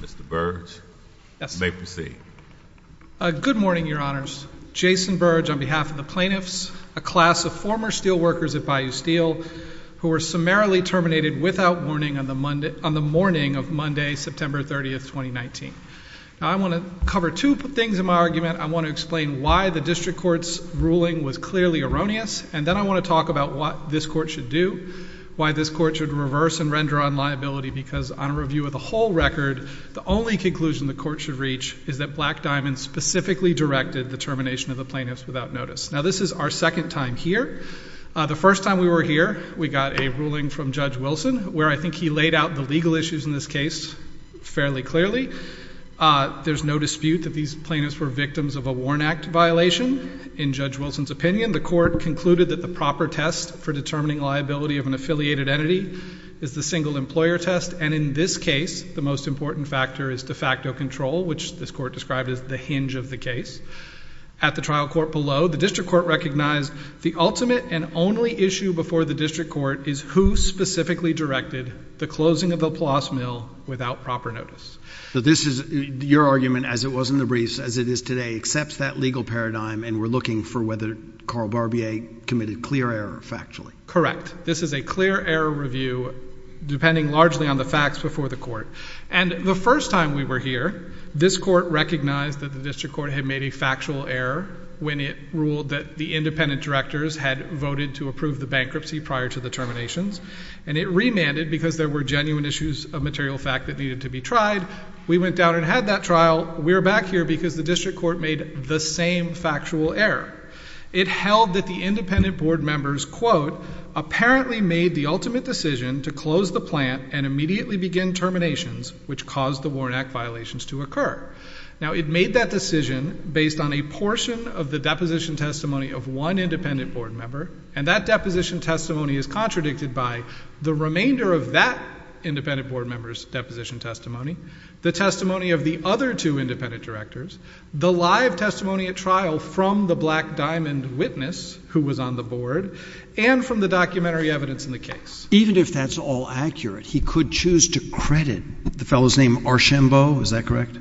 Mr. Burge, you may proceed. Good morning, your honors. Jason Burge, on behalf of the plaintiffs, a class of former steel workers at Bayou Steel, who were summarily terminated without warning on the morning of Monday, September 30, 2019. Now, I want to cover two things in my argument. I want to explain why the district court's ruling was clearly erroneous. And then I want to talk about what this court should do, why this court should reverse and render on liability, because on a review of the whole record, the only conclusion the court should reach is that Black Diamond specifically directed the termination of the plaintiffs without notice. Now, this is our second time here. The first time we were here, we got a ruling from Judge Wilson, where I think he laid out the legal issues in this case fairly clearly. There's no dispute that these plaintiffs were victims of a Warn Act violation. In Judge Wilson's opinion, the court concluded that the proper test for determining liability of an affiliated entity is the single employer test. And in this case, the most important factor is de facto control, which this court described as the hinge of the case. At the trial court below, the district court recognized the ultimate and only issue before the district court is who specifically directed the closing of Laplace Mill without proper notice. So this is your argument, as it was in the briefs, as it is today, accepts that legal paradigm, and we're looking for whether Carl Barbier committed clear error factually. Correct. This is a clear error review, depending largely on the facts before the court. And the first time we were here, this court recognized that the district court had made a factual error when it ruled that the independent directors had voted to approve the bankruptcy prior to the terminations. And it remanded because there were genuine issues of material fact that needed to be tried. We went down and had that trial. We're back here because the district court made the same factual error. It held that the independent board members, quote, apparently made the ultimate decision to close the plant and immediately begin terminations, which caused the Warnack violations to occur. Now, it made that decision based on a portion of the deposition testimony of one independent board member. And that deposition testimony is contradicted by the remainder of that independent board member's deposition testimony, the testimony of the other two independent directors, the live testimony at trial from the Black Diamond witness who was on the board, and from the documentary evidence in the case. Even if that's all accurate, he could choose to credit the fellow's name, Archambeau. Is that correct?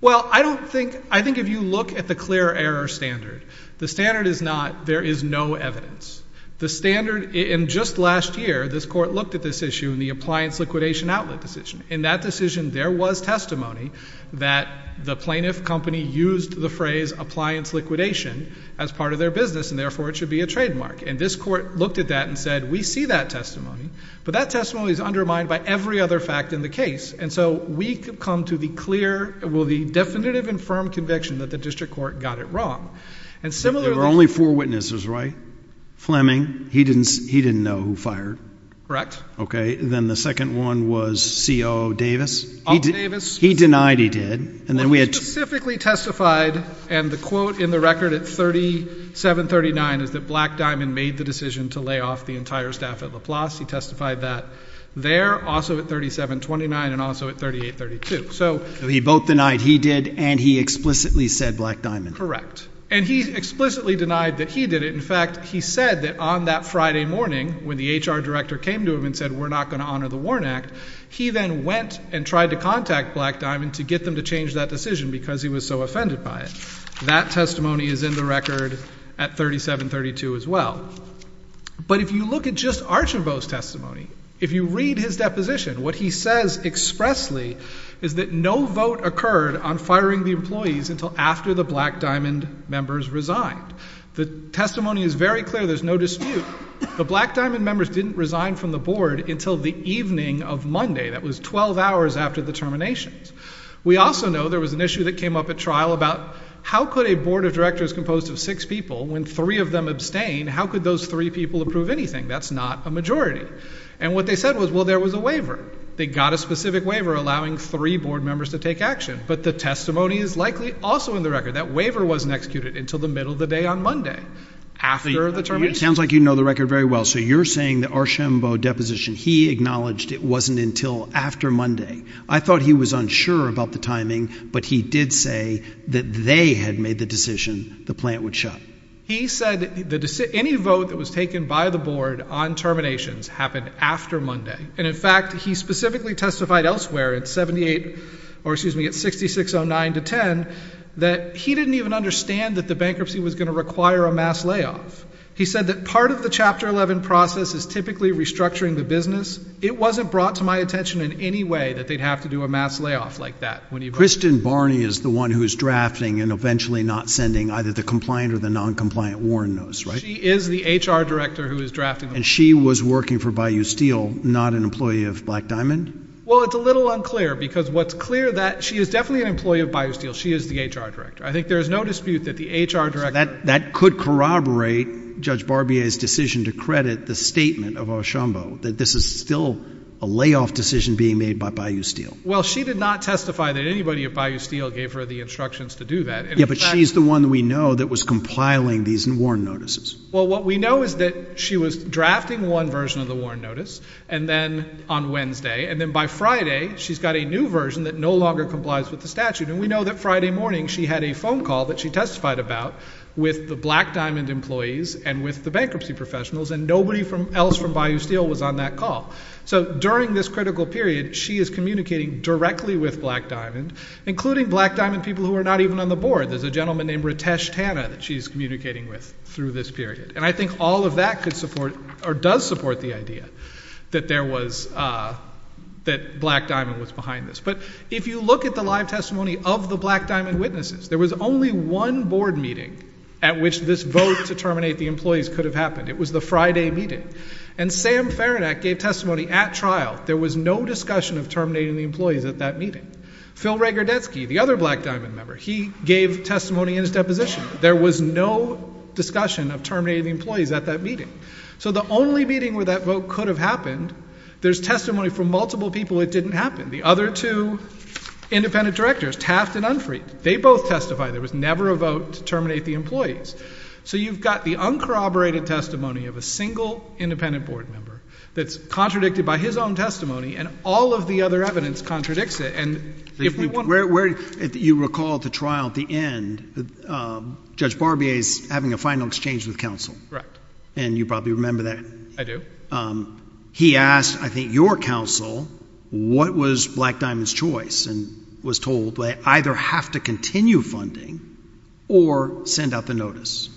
Well, I think if you look at the clear error standard, the standard is not there is no evidence. The standard in just last year, this court looked at this issue in the appliance liquidation outlet decision. In that decision, there was testimony that the plaintiff company used the phrase, appliance liquidation, as part of their business. And therefore, it should be a trademark. And this court looked at that and said, we see that testimony. But that testimony is undermined by every other fact in the case. And so we could come to the clear, well, the definitive and firm conviction that the district court got it wrong. And similarly, There were only four witnesses, right? Fleming, he didn't know who fired. Correct. OK. Then the second one was COO Davis. He denied he did. And then we had to specifically testified. And the quote in the record at 3739 is that Black Diamond made the decision to lay off the entire staff at Laplace. He testified that there, also at 3729, and also at 3832. So he both denied he did, and he explicitly said Black Diamond. And he explicitly denied that he did it. In fact, he said that on that Friday morning, when the HR director came to him and said, we're not going to honor the WARN Act, he then went and tried to contact Black Diamond to get them to change that decision, because he was so offended by it. That testimony is in the record at 3732, as well. But if you look at just Archibald's testimony, if you read his deposition, what he says expressly is that no vote occurred on firing the employees until after the Black Diamond members resigned. The testimony is very clear. There's no dispute. The Black Diamond members didn't resign from the board until the evening of Monday. That was 12 hours after the terminations. We also know there was an issue that came up at trial about how could a board of directors composed of six people, when three of them abstain, how could those three people approve anything? That's not a majority. And what they said was, well, there was a waiver. They got a specific waiver allowing three board members to take action. But the testimony is likely also in the record. That waiver wasn't executed until the middle of the day on Monday, after the terminations. It sounds like you know the record very well. So you're saying the Archambault deposition, he acknowledged it wasn't until after Monday. I thought he was unsure about the timing, but he did say that they had made the decision the plant would shut. He said any vote that was taken by the board on terminations happened after Monday. And in fact, he specifically testified elsewhere at 78, or excuse me, at 6609 to 10, that he didn't even understand that the bankruptcy was gonna require a mass layoff. He said that part of the Chapter 11 process is typically restructuring the business. It wasn't brought to my attention in any way that they'd have to do a mass layoff like that. Kristen Barney is the one who's drafting and eventually not sending either the compliant or the non-compliant Warren notes, right? She is the HR director who is drafting. And she was working for Bayou Steel, not an employee of Black Diamond? Well, it's a little unclear, because what's clear that she is definitely an employee of Bayou Steel. She is the HR director. I think there is no dispute that the HR director. That could corroborate Judge Barbier's decision to credit the statement of Oshombo, that this is still a layoff decision being made by Bayou Steel. Well, she did not testify that anybody at Bayou Steel gave her the instructions to do that. Yeah, but she's the one that we know that was compiling these Warren notices. Well, what we know is that she was drafting one version of the Warren notice on Wednesday, and then by Friday, she's got a new version that no longer complies with the statute. And we know that Friday morning, she had a phone call that she testified about with the Black Diamond employees and with the bankruptcy professionals, and nobody else from Bayou Steel was on that call. So during this critical period, she is communicating directly with Black Diamond, including Black Diamond people who are not even on the board. There's a gentleman named Ritesh Tana that she's communicating with through this period. And I think all of that could support, or does support the idea that there was, that Black Diamond was behind this. But if you look at the live testimony of the Black Diamond witnesses, there was only one board meeting at which this vote to terminate the employees could have happened. It was the Friday meeting. And Sam Ferenac gave testimony at trial. There was no discussion of terminating the employees at that meeting. Phil Rager-Detsky, the other Black Diamond member, he gave testimony in his deposition. There was no discussion of terminating the employees at that meeting. So the only meeting where that vote could have happened, there's testimony from multiple people it didn't happen. The other two independent directors, Taft and Unfried, they both testified. There was never a vote to terminate the employees. So you've got the uncorroborated testimony of a single independent board member that's contradicted by his own testimony and all of the other evidence contradicts it. And if we want- Where, if you recall at the trial at the end, Judge Barbier's having a final exchange with counsel. Correct. And you probably remember that. I do. He asked, I think, your counsel, what was Black Diamond's choice? And Pearson was told they either have to continue funding or send out the notice.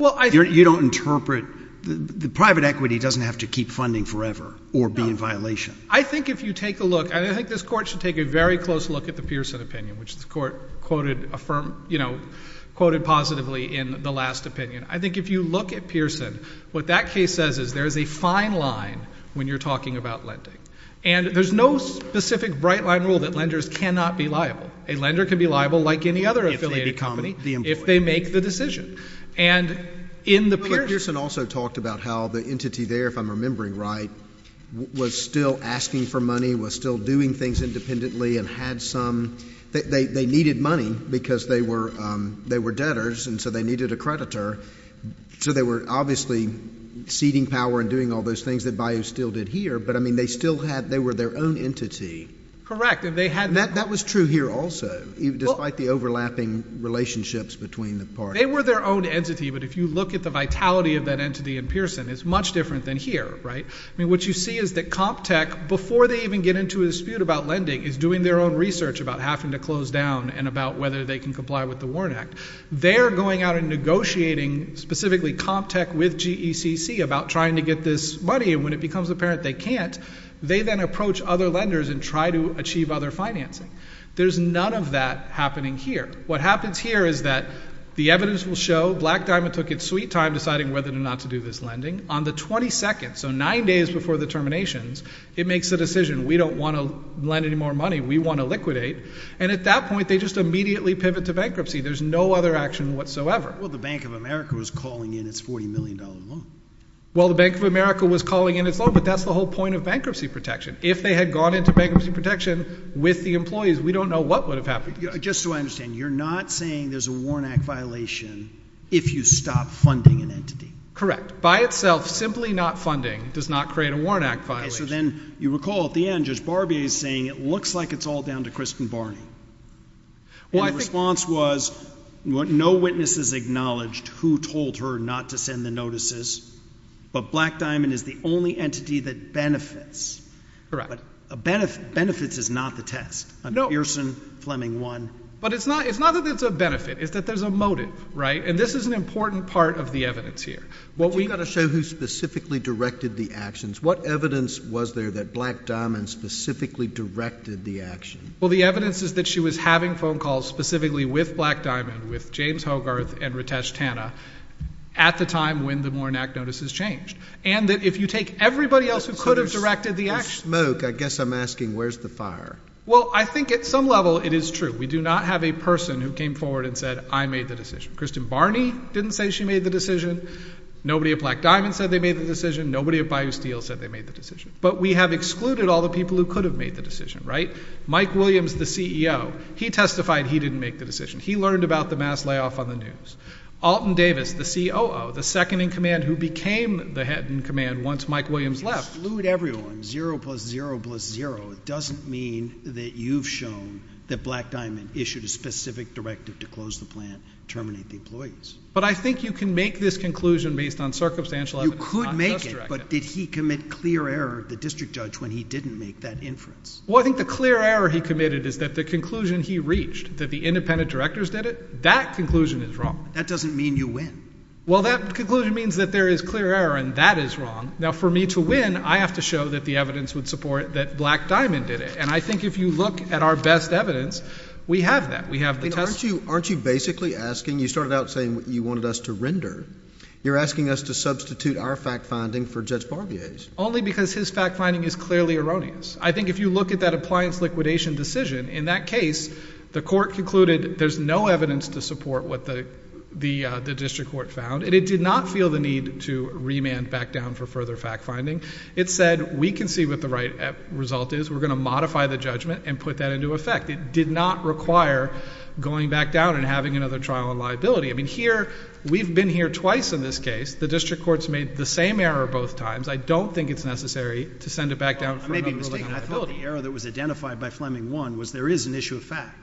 Well, I- You don't interpret, the private equity doesn't have to keep funding forever or be in violation. I think if you take a look, and I think this court should take a very close look at the Pearson opinion, which the court quoted affirm, you know, quoted positively in the last opinion. I think if you look at Pearson, what that case says is there is a fine line when you're talking about lending. And there's no specific bright line rule that lenders cannot be liable. A lender can be liable like any other affiliated company if they make the decision. And in the Pearson- But Pearson also talked about how the entity there, if I'm remembering right, was still asking for money, was still doing things independently and had some, they needed money because they were debtors. And so they needed a creditor. So they were obviously ceding power and doing all those things that Bayou still did here. But I mean, they still had, they were their own entity. Correct, and they had- That was true here also, despite the overlapping relationships between the parties. They were their own entity, but if you look at the vitality of that entity in Pearson, it's much different than here, right? I mean, what you see is that CompTech, before they even get into a dispute about lending, is doing their own research about having to close down and about whether they can comply with the Warren Act. They're going out and negotiating, specifically CompTech with GECC, about trying to get this money. And when it becomes apparent they can't, they then approach other lenders and try to achieve other financing. There's none of that happening here. What happens here is that the evidence will show Black Diamond took its sweet time deciding whether or not to do this lending. On the 22nd, so nine days before the terminations, it makes a decision. We don't want to lend any more money. We want to liquidate. And at that point, they just immediately pivot to bankruptcy. There's no other action whatsoever. Well, the Bank of America was calling in its $40 million loan. Well, the Bank of America was calling in its loan, but that's the whole point of bankruptcy protection. If they had gone into bankruptcy protection with the employees, we don't know what would have happened. Just so I understand, you're not saying there's a Warren Act violation if you stop funding an entity? Correct. By itself, simply not funding does not create a Warren Act violation. Okay, so then you recall at the end, Judge Barbier is saying it looks like it's all down to Kristen Barney. And the response was, no witnesses acknowledged who told her not to send the notices, but Black Diamond is the only entity that benefits. Benefits is not the test. No. Pearson, Fleming won. But it's not that it's a benefit. It's that there's a motive, right? And this is an important part of the evidence here. We've got to show who specifically directed the actions. What evidence was there that Black Diamond specifically directed the action? Well, the evidence is that she was having phone calls specifically with Black Diamond, with James Hogarth and Ritesh Tanna at the time when the Warren Act notices changed. And that if you take everybody else who could have directed the actions. There's smoke. I guess I'm asking, where's the fire? Well, I think at some level, it is true. We do not have a person who came forward and said, I made the decision. Kristen Barney didn't say she made the decision. Nobody at Black Diamond said they made the decision. Nobody at Bayou Steel said they made the decision. But we have excluded all the people who could have made the decision, right? Mike Williams, the CEO, he testified he didn't make the decision. He learned about the mass layoff on the news. Alton Davis, the COO, the second in command who became the head in command once Mike Williams left. Exclude everyone, zero plus zero plus zero. It doesn't mean that you've shown that Black Diamond issued a specific directive to close the plant, terminate the employees. But I think you can make this conclusion based on circumstantial evidence. You could make it, but did he commit clear error, the district judge, when he didn't make that inference? Well, I think the clear error he committed is that the conclusion he reached, that the independent directors did it, that conclusion is wrong. That doesn't mean you win. Well, that conclusion means that there is clear error and that is wrong. Now, for me to win, I have to show that the evidence would support that Black Diamond did it. And I think if you look at our best evidence, we have that, we have the testimony. Aren't you basically asking, you started out saying you wanted us to render. You're asking us to substitute our fact finding for Judge Barbier's. Only because his fact finding is clearly erroneous. I think if you look at that appliance liquidation decision, in that case, the court concluded there's no evidence to support what the district court found and it did not feel the need to remand back down for further fact finding. It said, we can see what the right result is. We're gonna modify the judgment and put that into effect. It did not require going back down and having another trial on liability. I mean, here, we've been here twice in this case. The district court's made the same error both times. I don't think it's necessary to send it back down for another liability. I may be mistaken. I thought the error that was identified by Fleming one was there is an issue of fact.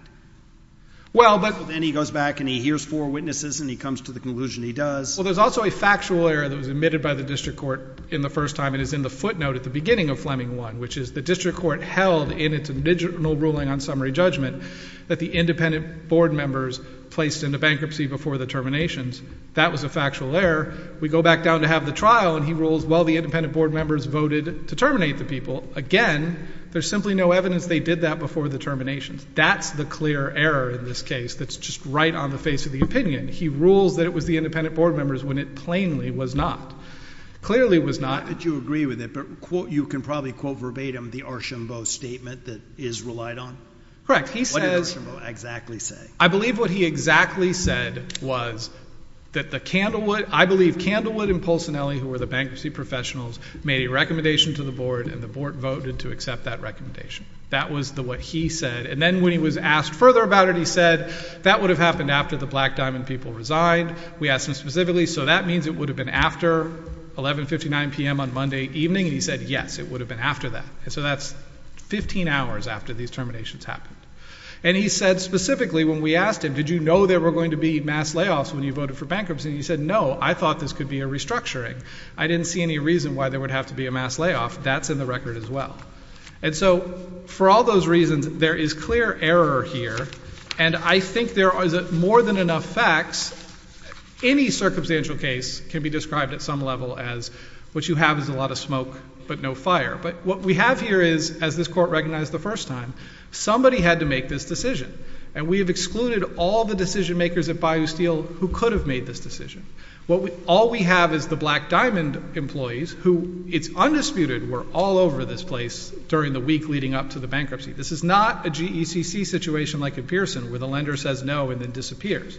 Well, but- And he goes back and he hears four witnesses and he comes to the conclusion he does. Well, there's also a factual error that was admitted by the district court in the first time. It is in the footnote at the beginning of Fleming one, which is the district court held in its original ruling on summary judgment that the independent board members placed into bankruptcy before the terminations. That was a factual error. We go back down to have the trial and he rules, well, the independent board members voted to terminate the people. Again, there's simply no evidence they did that before the terminations. That's the clear error in this case that's just right on the face of the opinion. He rules that it was the independent board members when it plainly was not. Clearly was not- Not that you agree with it, but you can probably quote verbatim the Archambault statement that is relied on. Correct, he says- What did Archambault exactly say? I believe what he exactly said was that the Candlewood, I believe Candlewood and Pulcinelli, who were the bankruptcy professionals, made a recommendation to the board and the board voted to accept that recommendation. That was what he said. And then when he was asked further about it, he said, that would have happened after the Black Diamond people resigned. We asked him specifically, so that means it would have been after 11.59 p.m. on Monday evening? He said, yes, it would have been after that. And so that's 15 hours after these terminations happened. And he said specifically when we asked him, did you know there were going to be mass layoffs when you voted for bankruptcy? He said, no, I thought this could be a restructuring. I didn't see any reason why there would have to be a mass layoff. That's in the record as well. And so for all those reasons, there is clear error here. And I think there are more than enough facts, any circumstantial case can be described at some level as what you have is a lot of smoke, but no fire. But what we have here is, as this court recognized the first time, somebody had to make this decision. And we have excluded all the decision makers at Bayou Steel who could have made this decision. All we have is the Black Diamond employees who it's undisputed were all over this place during the week leading up to the bankruptcy. This is not a GECC situation like a Pearson where the lender says no and then disappears.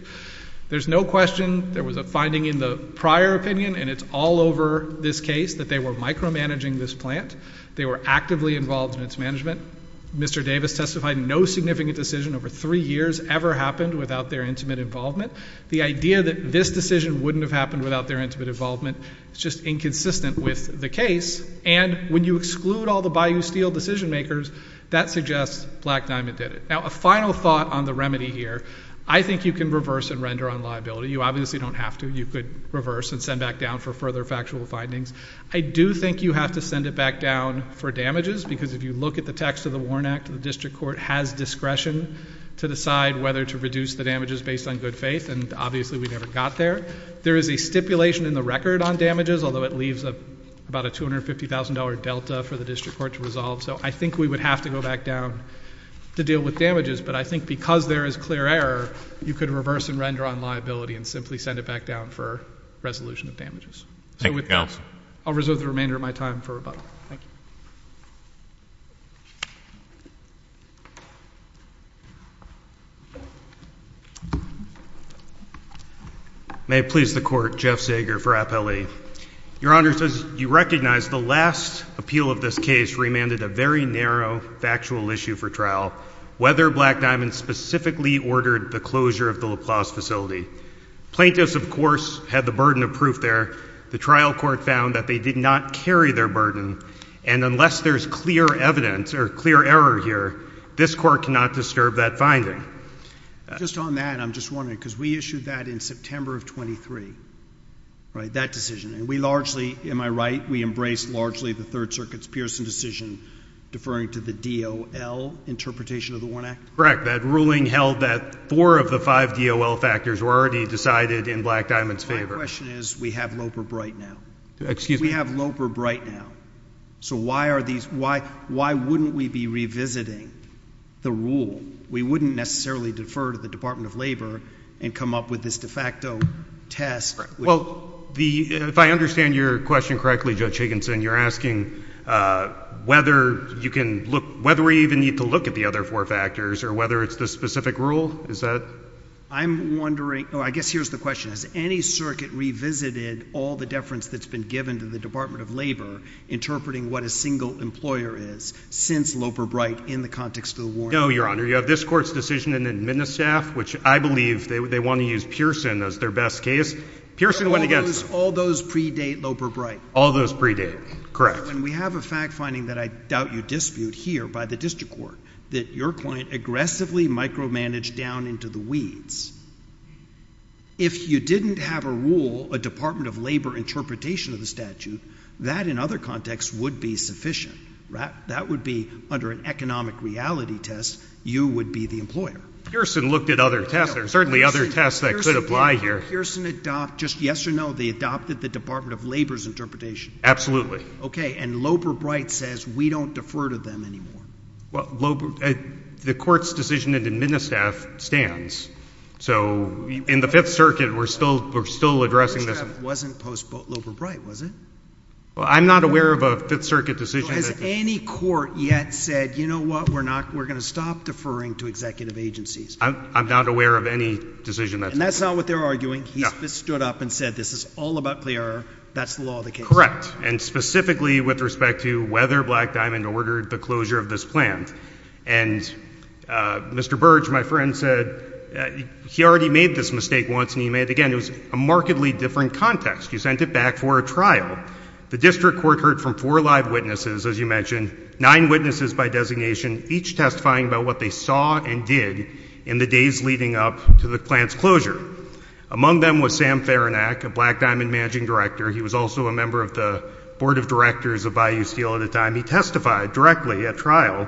There's no question there was a finding in the prior opinion and it's all over this case that they were micromanaging this plant. They were actively involved in its management. Mr. Davis testified no significant decision over three years ever happened without their intimate involvement. The idea that this decision wouldn't have happened without their intimate involvement, it's just inconsistent with the case. And when you exclude all the Bayou Steel decision makers, that suggests Black Diamond did it. Now, a final thought on the remedy here. I think you can reverse and render on liability. You obviously don't have to. You could reverse and send back down for further factual findings. I do think you have to send it back down for damages because if you look at the text of the Warren Act, the district court has discretion to decide whether to reduce the damages based on good faith. And obviously we never got there. There is a stipulation in the record on damages, although it leaves about a $250,000 delta for the district court to resolve. So I think we would have to go back down to deal with damages. But I think because there is clear error, you could reverse and render on liability and simply send it back down for resolution of damages. Thank you, counsel. I'll reserve the remainder of my time for rebuttal. Thank you. May it please the court. Jeff Sager for Appellee. Your Honor, as you recognize, the last appeal of this case remanded a very narrow factual issue for trial, whether Black Diamond specifically ordered the closure of the LaPlace facility. Plaintiffs, of course, had the burden of proof there. The trial court found that they did not carry their burden. And unless they did not carry their burden, unless there's clear evidence or clear error here, this court cannot disturb that finding. Just on that, I'm just wondering, because we issued that in September of 23, right, that decision. And we largely, am I right, we embraced largely the Third Circuit's Pearson decision deferring to the DOL interpretation of the WARN Act? Correct. That ruling held that four of the five DOL factors were already decided in Black Diamond's favor. My question is, we have Loper-Bright now. Excuse me? We have Loper-Bright now. So why wouldn't we be revisiting the rule? We wouldn't necessarily defer to the Department of Labor and come up with this de facto test. Well, if I understand your question correctly, Judge Higginson, you're asking whether we even need to look at the other four factors or whether it's the specific rule? Is that? I'm wondering, oh, I guess here's the question. Has any circuit revisited all the deference that's been given to the Department of Labor interpreting what a single employer is since Loper-Bright in the context of the WARN Act? No, Your Honor. You have this court's decision in the MNESSAF, which I believe they want to use Pearson as their best case. Pearson went against it. All those predate Loper-Bright? All those predate, correct. And we have a fact finding that I doubt you dispute here by the district court, that your client aggressively micromanaged down into the weeds. If you didn't have a rule, a Department of Labor interpretation of the statute, that in other contexts would be sufficient. That would be under an economic reality test, you would be the employer. Pearson looked at other tests. There are certainly other tests that could apply here. Pearson adopted, just yes or no, they adopted the Department of Labor's interpretation. Absolutely. OK, and Loper-Bright says we don't defer to them anymore. The court's decision in the MNESSAF stands. So in the Fifth Circuit, we're still addressing this. MNESSAF wasn't post-Loper-Bright, was it? Well, I'm not aware of a Fifth Circuit decision. Has any court yet said, you know what, we're going to stop deferring to executive agencies? I'm not aware of any decision that's been made. And that's not what they're arguing. He's just stood up and said, this is all about CLEAR. That's the law of the case. Correct. And specifically with respect to whether Black Diamond ordered the closure of this plan. And Mr. Burge, my friend, said he already made this mistake once, and he made it again. It was a markedly different context. You sent it back for a trial. The district court heard from four live witnesses, as you mentioned, nine witnesses by designation, each testifying about what they saw and did in the days leading up to the plan's closure. Among them was Sam Ferenac, a Black Diamond managing director. He was also a member of the board of directors of Bayou Steel at the time. He testified directly at trial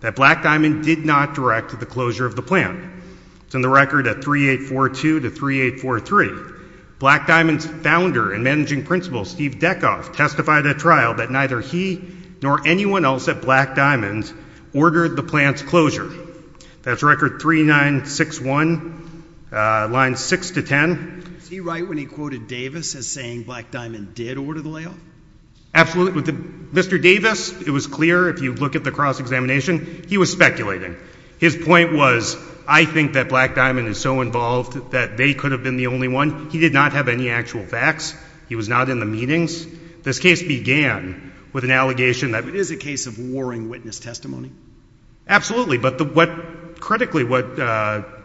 that Black Diamond did not direct the closure of the plan. It's in the record at 3842 to 3843. Black Diamond's founder and managing principal, Steve Deckhoff, testified at trial that neither he nor anyone else at Black Diamond ordered the plan's closure. That's record 3961, lines 6 to 10. Is he right when he quoted Davis as saying Black Diamond did order the layoff? Absolutely. Mr. Davis, it was clear. If you look at the cross-examination, he was speculating. His point was, I think that Black Diamond is so involved that they could have been the only one. He did not have any actual facts. He was not in the meetings. This case began with an allegation that it is a case of warring witness testimony. Absolutely. But critically, what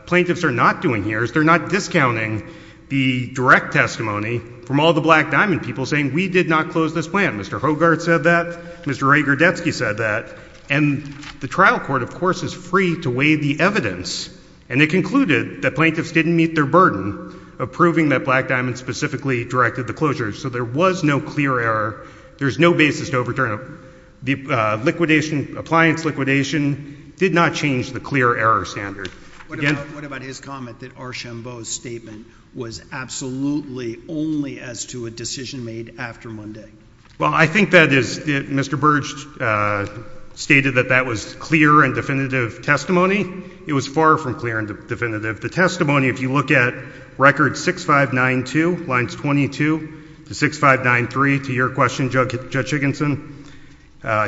plaintiffs are not doing here is they're not discounting the direct testimony from all the Black Diamond people saying, we did not close this plan. Mr. Hogarth said that. Mr. Ray Gerdetsky said that. And the trial court, of course, is free to weigh the evidence. And they concluded that plaintiffs didn't meet their burden of proving that Black Diamond specifically directed the closure. So there was no clear error. There's no basis to overturn it. Appliance liquidation did not change the clear error standard. What about his comment that Archambault's statement was absolutely only as to a decision made after Monday? Well, I think that is, Mr. Burge stated that that was clear and definitive testimony. It was far from clear and definitive. The testimony, if you look at record 6592, lines 22 to 6593, to your question, Judge Higginson,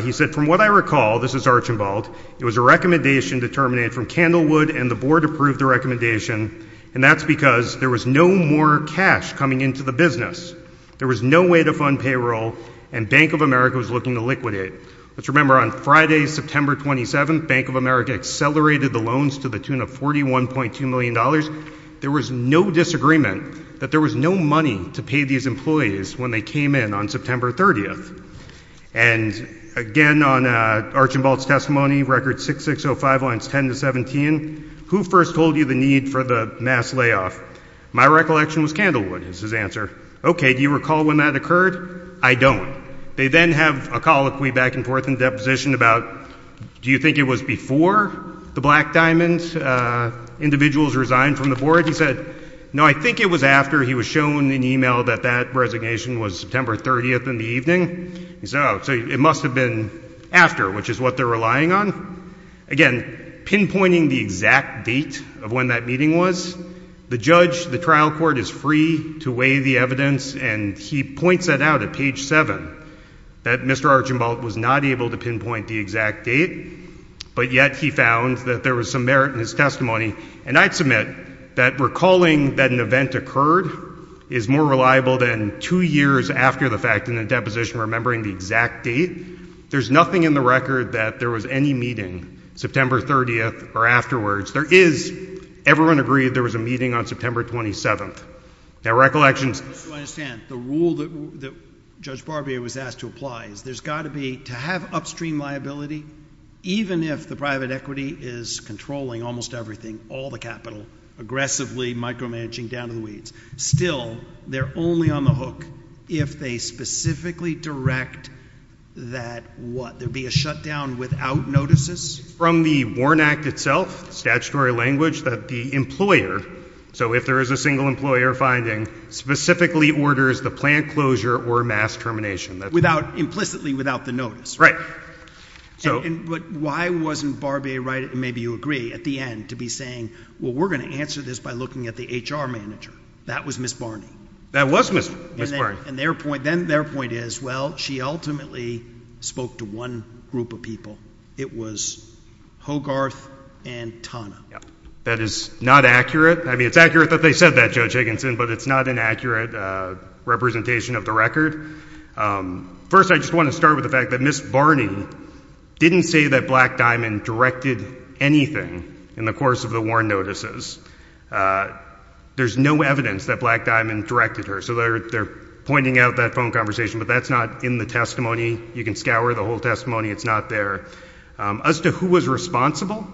he said, from what I recall, this is Archambault, it was a recommendation determined from Candlewood and the board approved the recommendation. And that's because there was no more cash coming into the business. There was no way to fund payroll. And Bank of America was looking to liquidate. Let's remember, on Friday, September 27, Bank of America accelerated the loans to the tune of $41.2 There was no disagreement that there was no money to pay these employees when they came in on September 30. And again, on Archambault's testimony, record 6605, lines 10 to 17, who first told you the need for the mass layoff? My recollection was Candlewood, is his answer. OK, do you recall when that occurred? I don't. They then have a colloquy back and forth in the deposition about, do you think it was before the Black Diamond individuals resigned from the board? He said, no, I think it was after he was shown an email that that resignation was September 30 in the evening. He said, oh, so it must have been after, which is what they're relying on. Again, pinpointing the exact date of when that meeting was, the judge, the trial court, is free to weigh the evidence. And he points that out at page 7, that Mr. Archambault was not able to pinpoint the exact date, but yet he found that there was some merit in his testimony. And I'd submit that recalling that an event occurred is more reliable than two years after the fact in the deposition remembering the exact date. There's nothing in the record that there was any meeting September 30 or afterwards. Everyone agreed there was a meeting on September 27. Now, recollections. Just so I understand, the rule that Judge Barbier was asked to apply is there's got to be, to have upstream liability, even if the private equity is controlling almost everything, all the capital, aggressively micromanaging down to the weeds. Still, they're only on the hook if they specifically direct that, what, there be a shutdown without notices? From the WARN Act itself, statutory language, that the employer, so if there is a single employer finding, specifically orders the plant closure or mass termination. Implicitly without the notice. Right. But why wasn't Barbier right, and maybe you agree, at the end to be saying, well, we're going to answer this by looking at the HR manager. That was Ms. Barney. That was Ms. Barney. And then their point is, well, she ultimately spoke to one group of people. It was Hogarth and Tana. That is not accurate. I mean, it's accurate that they said that, Judge Higginson, but it's not an accurate representation of the record. First, I just want to start with the fact that Ms. Barney didn't say that Black Diamond directed anything in the course of the WARN notices. There's no evidence that Black Diamond directed her. So they're pointing out that phone conversation, but that's not in the testimony. You can scour the whole testimony. It's not there. As to who was responsible,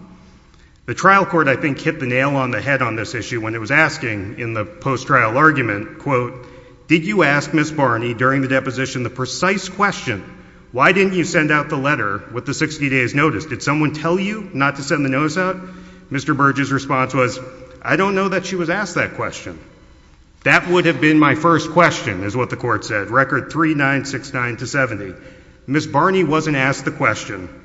the trial court, I think, hit the nail on the head on this issue when it was asking in the post-trial argument, quote, did you ask Ms. Barney during the deposition the precise question, why didn't you send out the letter with the 60 days notice? Did someone tell you not to send the notice out? Mr. Burge's response was, I don't know that she was asked that question. That would have been my first question, is what the court said, record 3969 to 70. Ms. Barney wasn't asked the question.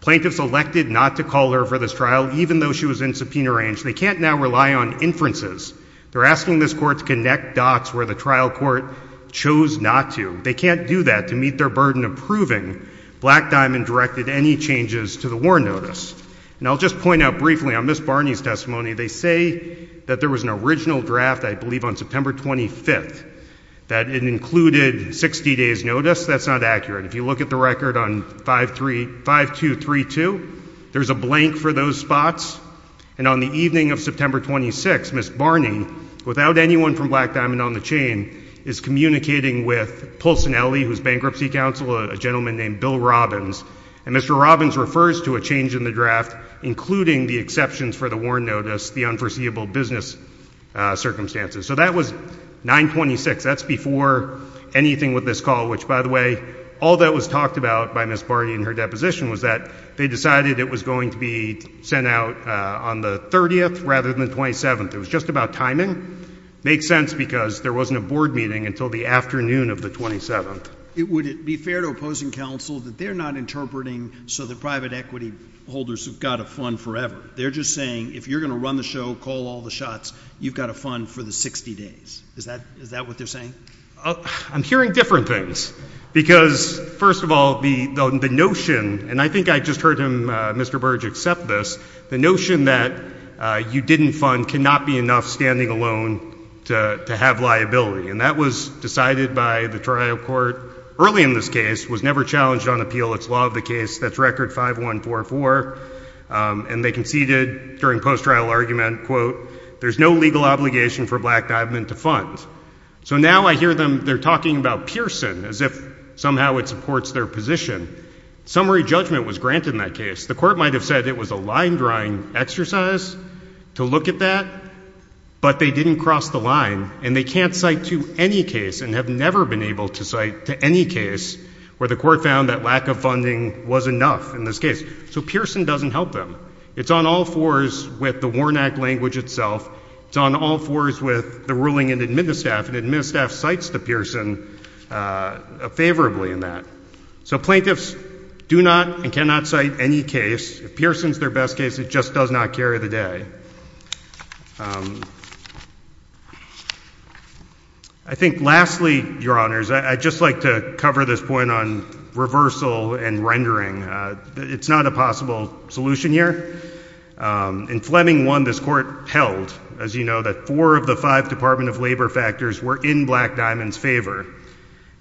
Plaintiffs elected not to call her for this trial, even though she was in subpoena range. They can't now rely on inferences. They're asking this court to connect dots where the trial court chose not to. They can't do that to meet their burden of proving Black Diamond directed any changes to the WARN notice. And I'll just point out briefly, on Ms. Barney's testimony, they say that there was an original draft, I believe on September 25th, that it included 60 days notice. That's not accurate. If you look at the record on 5232, there's a blank for those spots. And on the evening of September 26th, Ms. Barney, without anyone from Black Diamond on the chain, is communicating with Pulsinelli, who's bankruptcy counsel, a gentleman named Bill Robbins. And Mr. Robbins refers to a change in the draft, including the exceptions for the WARN notice, the unforeseeable business circumstances. So that was 926, that's before anything with this call, which, by the way, all that was talked about by Ms. Barney in her deposition was that they decided it was going to be sent out on the 30th rather than the 27th. It was just about timing. Makes sense because there wasn't a board meeting until the afternoon of the 27th. Would it be fair to opposing counsel that they're not interpreting so the private equity holders have got a fund forever? They're just saying, if you're gonna run the show, call all the shots, you've got a fund for the 60 days. Is that what they're saying? I'm hearing different things. Because, first of all, the notion, and I think I just heard him, Mr. Burge, accept this, the notion that you didn't fund cannot be enough standing alone to have liability. And that was decided by the trial court early in this case, was never challenged on appeal. It's law of the case, that's record 5144. And they conceded during post-trial argument, quote, there's no legal obligation for black dive men to fund. So now I hear them, they're talking about Pearson as if somehow it supports their position. Summary judgment was granted in that case. The court might have said it was a line drawing exercise to look at that, but they didn't cross the line. And they can't cite to any case and have never been able to cite to any case where the court found that lack of funding was enough in this case. So Pearson doesn't help them. It's on all fours with the Warnak language itself. It's on all fours with the ruling in admittance staff, and admittance staff cites the Pearson favorably in that. So plaintiffs do not and cannot cite any case. If Pearson's their best case, it just does not carry the day. I think lastly, your honors, I'd just like to cover this point on reversal and rendering. It's not a possible solution here. In Fleming one, this court held, as you know, that four of the five Department of Labor factors were in Black Diamond's favor.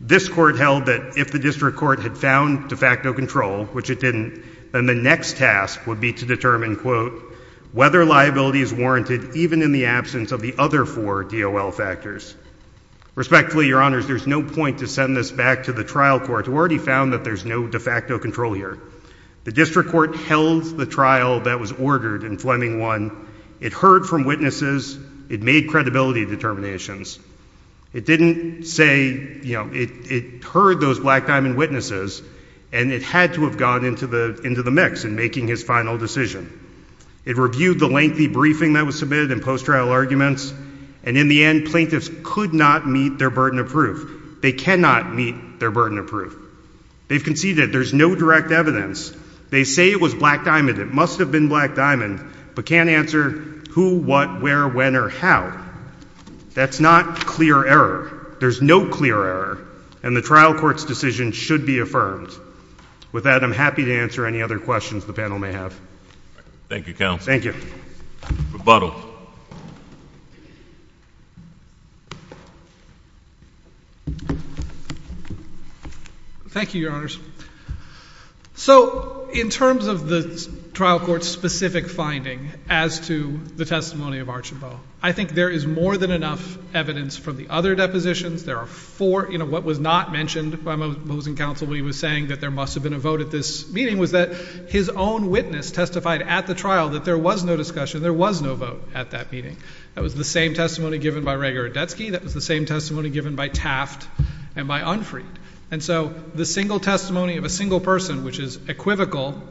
This court held that if the district court had found de facto control, which it didn't, then the next task would be to determine, quote, whether liability is warranted even in the absence of the other four DOL factors. Respectfully, your honors, there's no point to send this back to the trial court who already found that there's no de facto control here. The district court held the trial that was ordered in Fleming one. It heard from witnesses. It made credibility determinations. It didn't say, you know, it heard those Black Diamond witnesses, and it had to have gone into the mix in making his final decision. It reviewed the lengthy briefing that was submitted and post-trial arguments, and in the end, plaintiffs could not meet their burden of proof. They cannot meet their burden of proof. They've conceded there's no direct evidence. They say it was Black Diamond. It must have been Black Diamond, but can't answer who, what, where, when, or how. That's not clear error. There's no clear error, and the trial court's decision should be affirmed. With that, I'm happy to answer any other questions the panel may have. Thank you, counsel. Thank you. Rebuttal. Thank you, Your Honors. So, in terms of the trial court's specific finding as to the testimony of Archambault, I think there is more than enough evidence from the other depositions. There are four, you know, what was not mentioned by Mosin counsel when he was saying that there must have been a vote at this meeting was that his own witness testified at the trial that there was no discussion, there was no vote at that meeting. That was the same testimony given by Rager and Detsky. That was the same testimony given by Taft and by Unfried. And so, the single testimony of a single person, which is equivocal,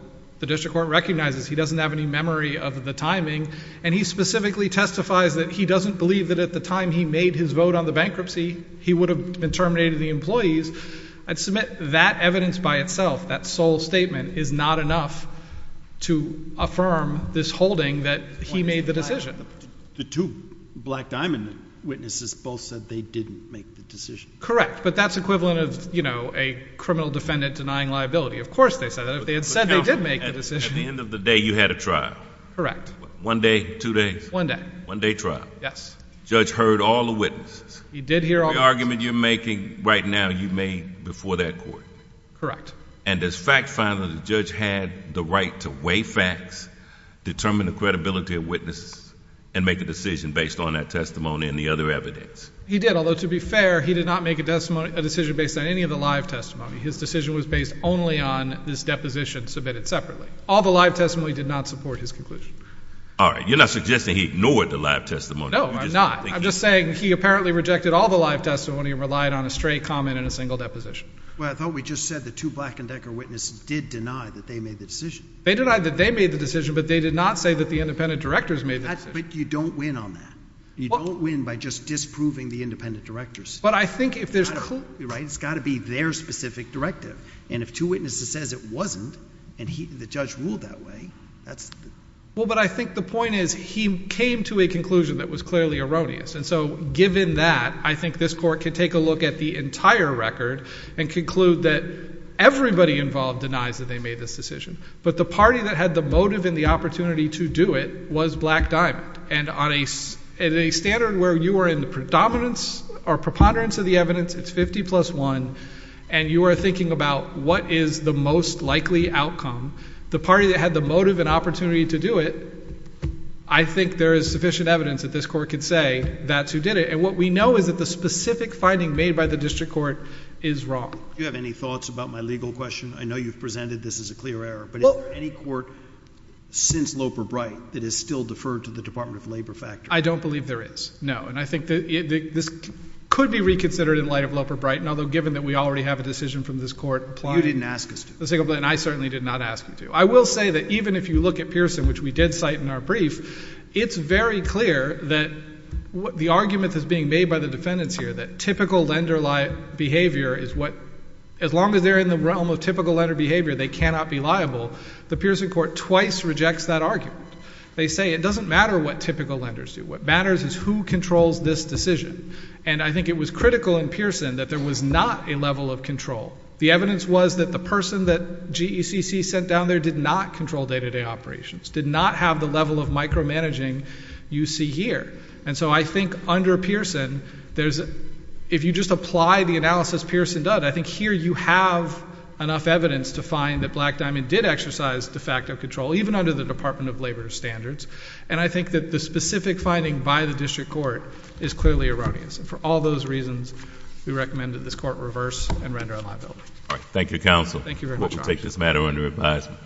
the district court recognizes he doesn't have any memory of the timing, and he specifically testifies that he doesn't believe that at the time he made his vote on the bankruptcy, he would have been terminated of the employees. I'd submit that evidence by itself, that sole statement is not enough to affirm this holding that he made the decision. The two Black Diamond witnesses both said they didn't make the decision. Correct, but that's equivalent of, you know, a criminal defendant denying liability. Of course they said that, if they had said they did make the decision. At the end of the day, you had a trial. Correct. One day, two days? One day. One day trial. Yes. Judge heard all the witnesses. He did hear all the witnesses. The argument you're making right now, you made before that court. Correct. And does fact find that the judge had the right to weigh facts, determine the credibility of witnesses, and make a decision based on that testimony and the other evidence? He did, although to be fair, he did not make a decision based on any of the live testimony. His decision was based only on this deposition submitted separately. All the live testimony did not support his conclusion. All right, you're not suggesting he ignored the live testimony. No, I'm not. I'm just saying he apparently rejected all the live testimony and relied on a straight comment and a single deposition. Well, I thought we just said the two Black and Decker witnesses did deny that they made the decision. They denied that they made the decision, but they did not say that the independent directors made the decision. But you don't win on that. You don't win by just disproving the independent directors. It's got to be their specific directive. And if two witnesses says it wasn't and the judge ruled that way, that's... Well, but I think the point is he came to a conclusion that was clearly erroneous. And so given that, I think this court could take a look at the entire record and conclude that everybody involved denies that they made this decision. But the party that had the motive and the opportunity to do it was Black Diamond. And on a standard where you are in the predominance or preponderance of the evidence, it's 50 plus one. And you are thinking about what is the most likely outcome. The party that had the motive and opportunity to do it, I think there is sufficient evidence that this court could say that's who did it. And what we know is that the specific finding made by the district court is wrong. Do you have any thoughts about my legal question? I know you've presented this as a clear error, but is there any court since Loper Bright that is still deferred to the Department of Labor factor? I don't believe there is, no. And I think that this could be reconsidered in light of Loper Bright. And although given that we already have a decision from this court. You didn't ask us to. And I certainly did not ask you to. I will say that even if you look at Pearson, which we did cite in our brief, it's very clear that the argument that's being made by the defendants here, that typical lender behavior is what, as long as they're in the realm of typical lender behavior, they cannot be liable. The Pearson court twice rejects that argument. They say it doesn't matter what typical lenders do. What matters is who controls this decision. And I think it was critical in Pearson that there was not a level of control. The evidence was that the person that GECC sent down there did not control day-to-day operations, did not have the level of micromanaging you see here. And so I think under Pearson, if you just apply the analysis Pearson does, I think here you have enough evidence to find that Black Diamond did exercise de facto control, even under the Department of Labor standards. And I think that the specific finding by the district court is clearly erroneous. And for all those reasons, we recommend that this court reverse and render liability. Thank you, counsel. Thank you very much. We'll take this matter under advisement.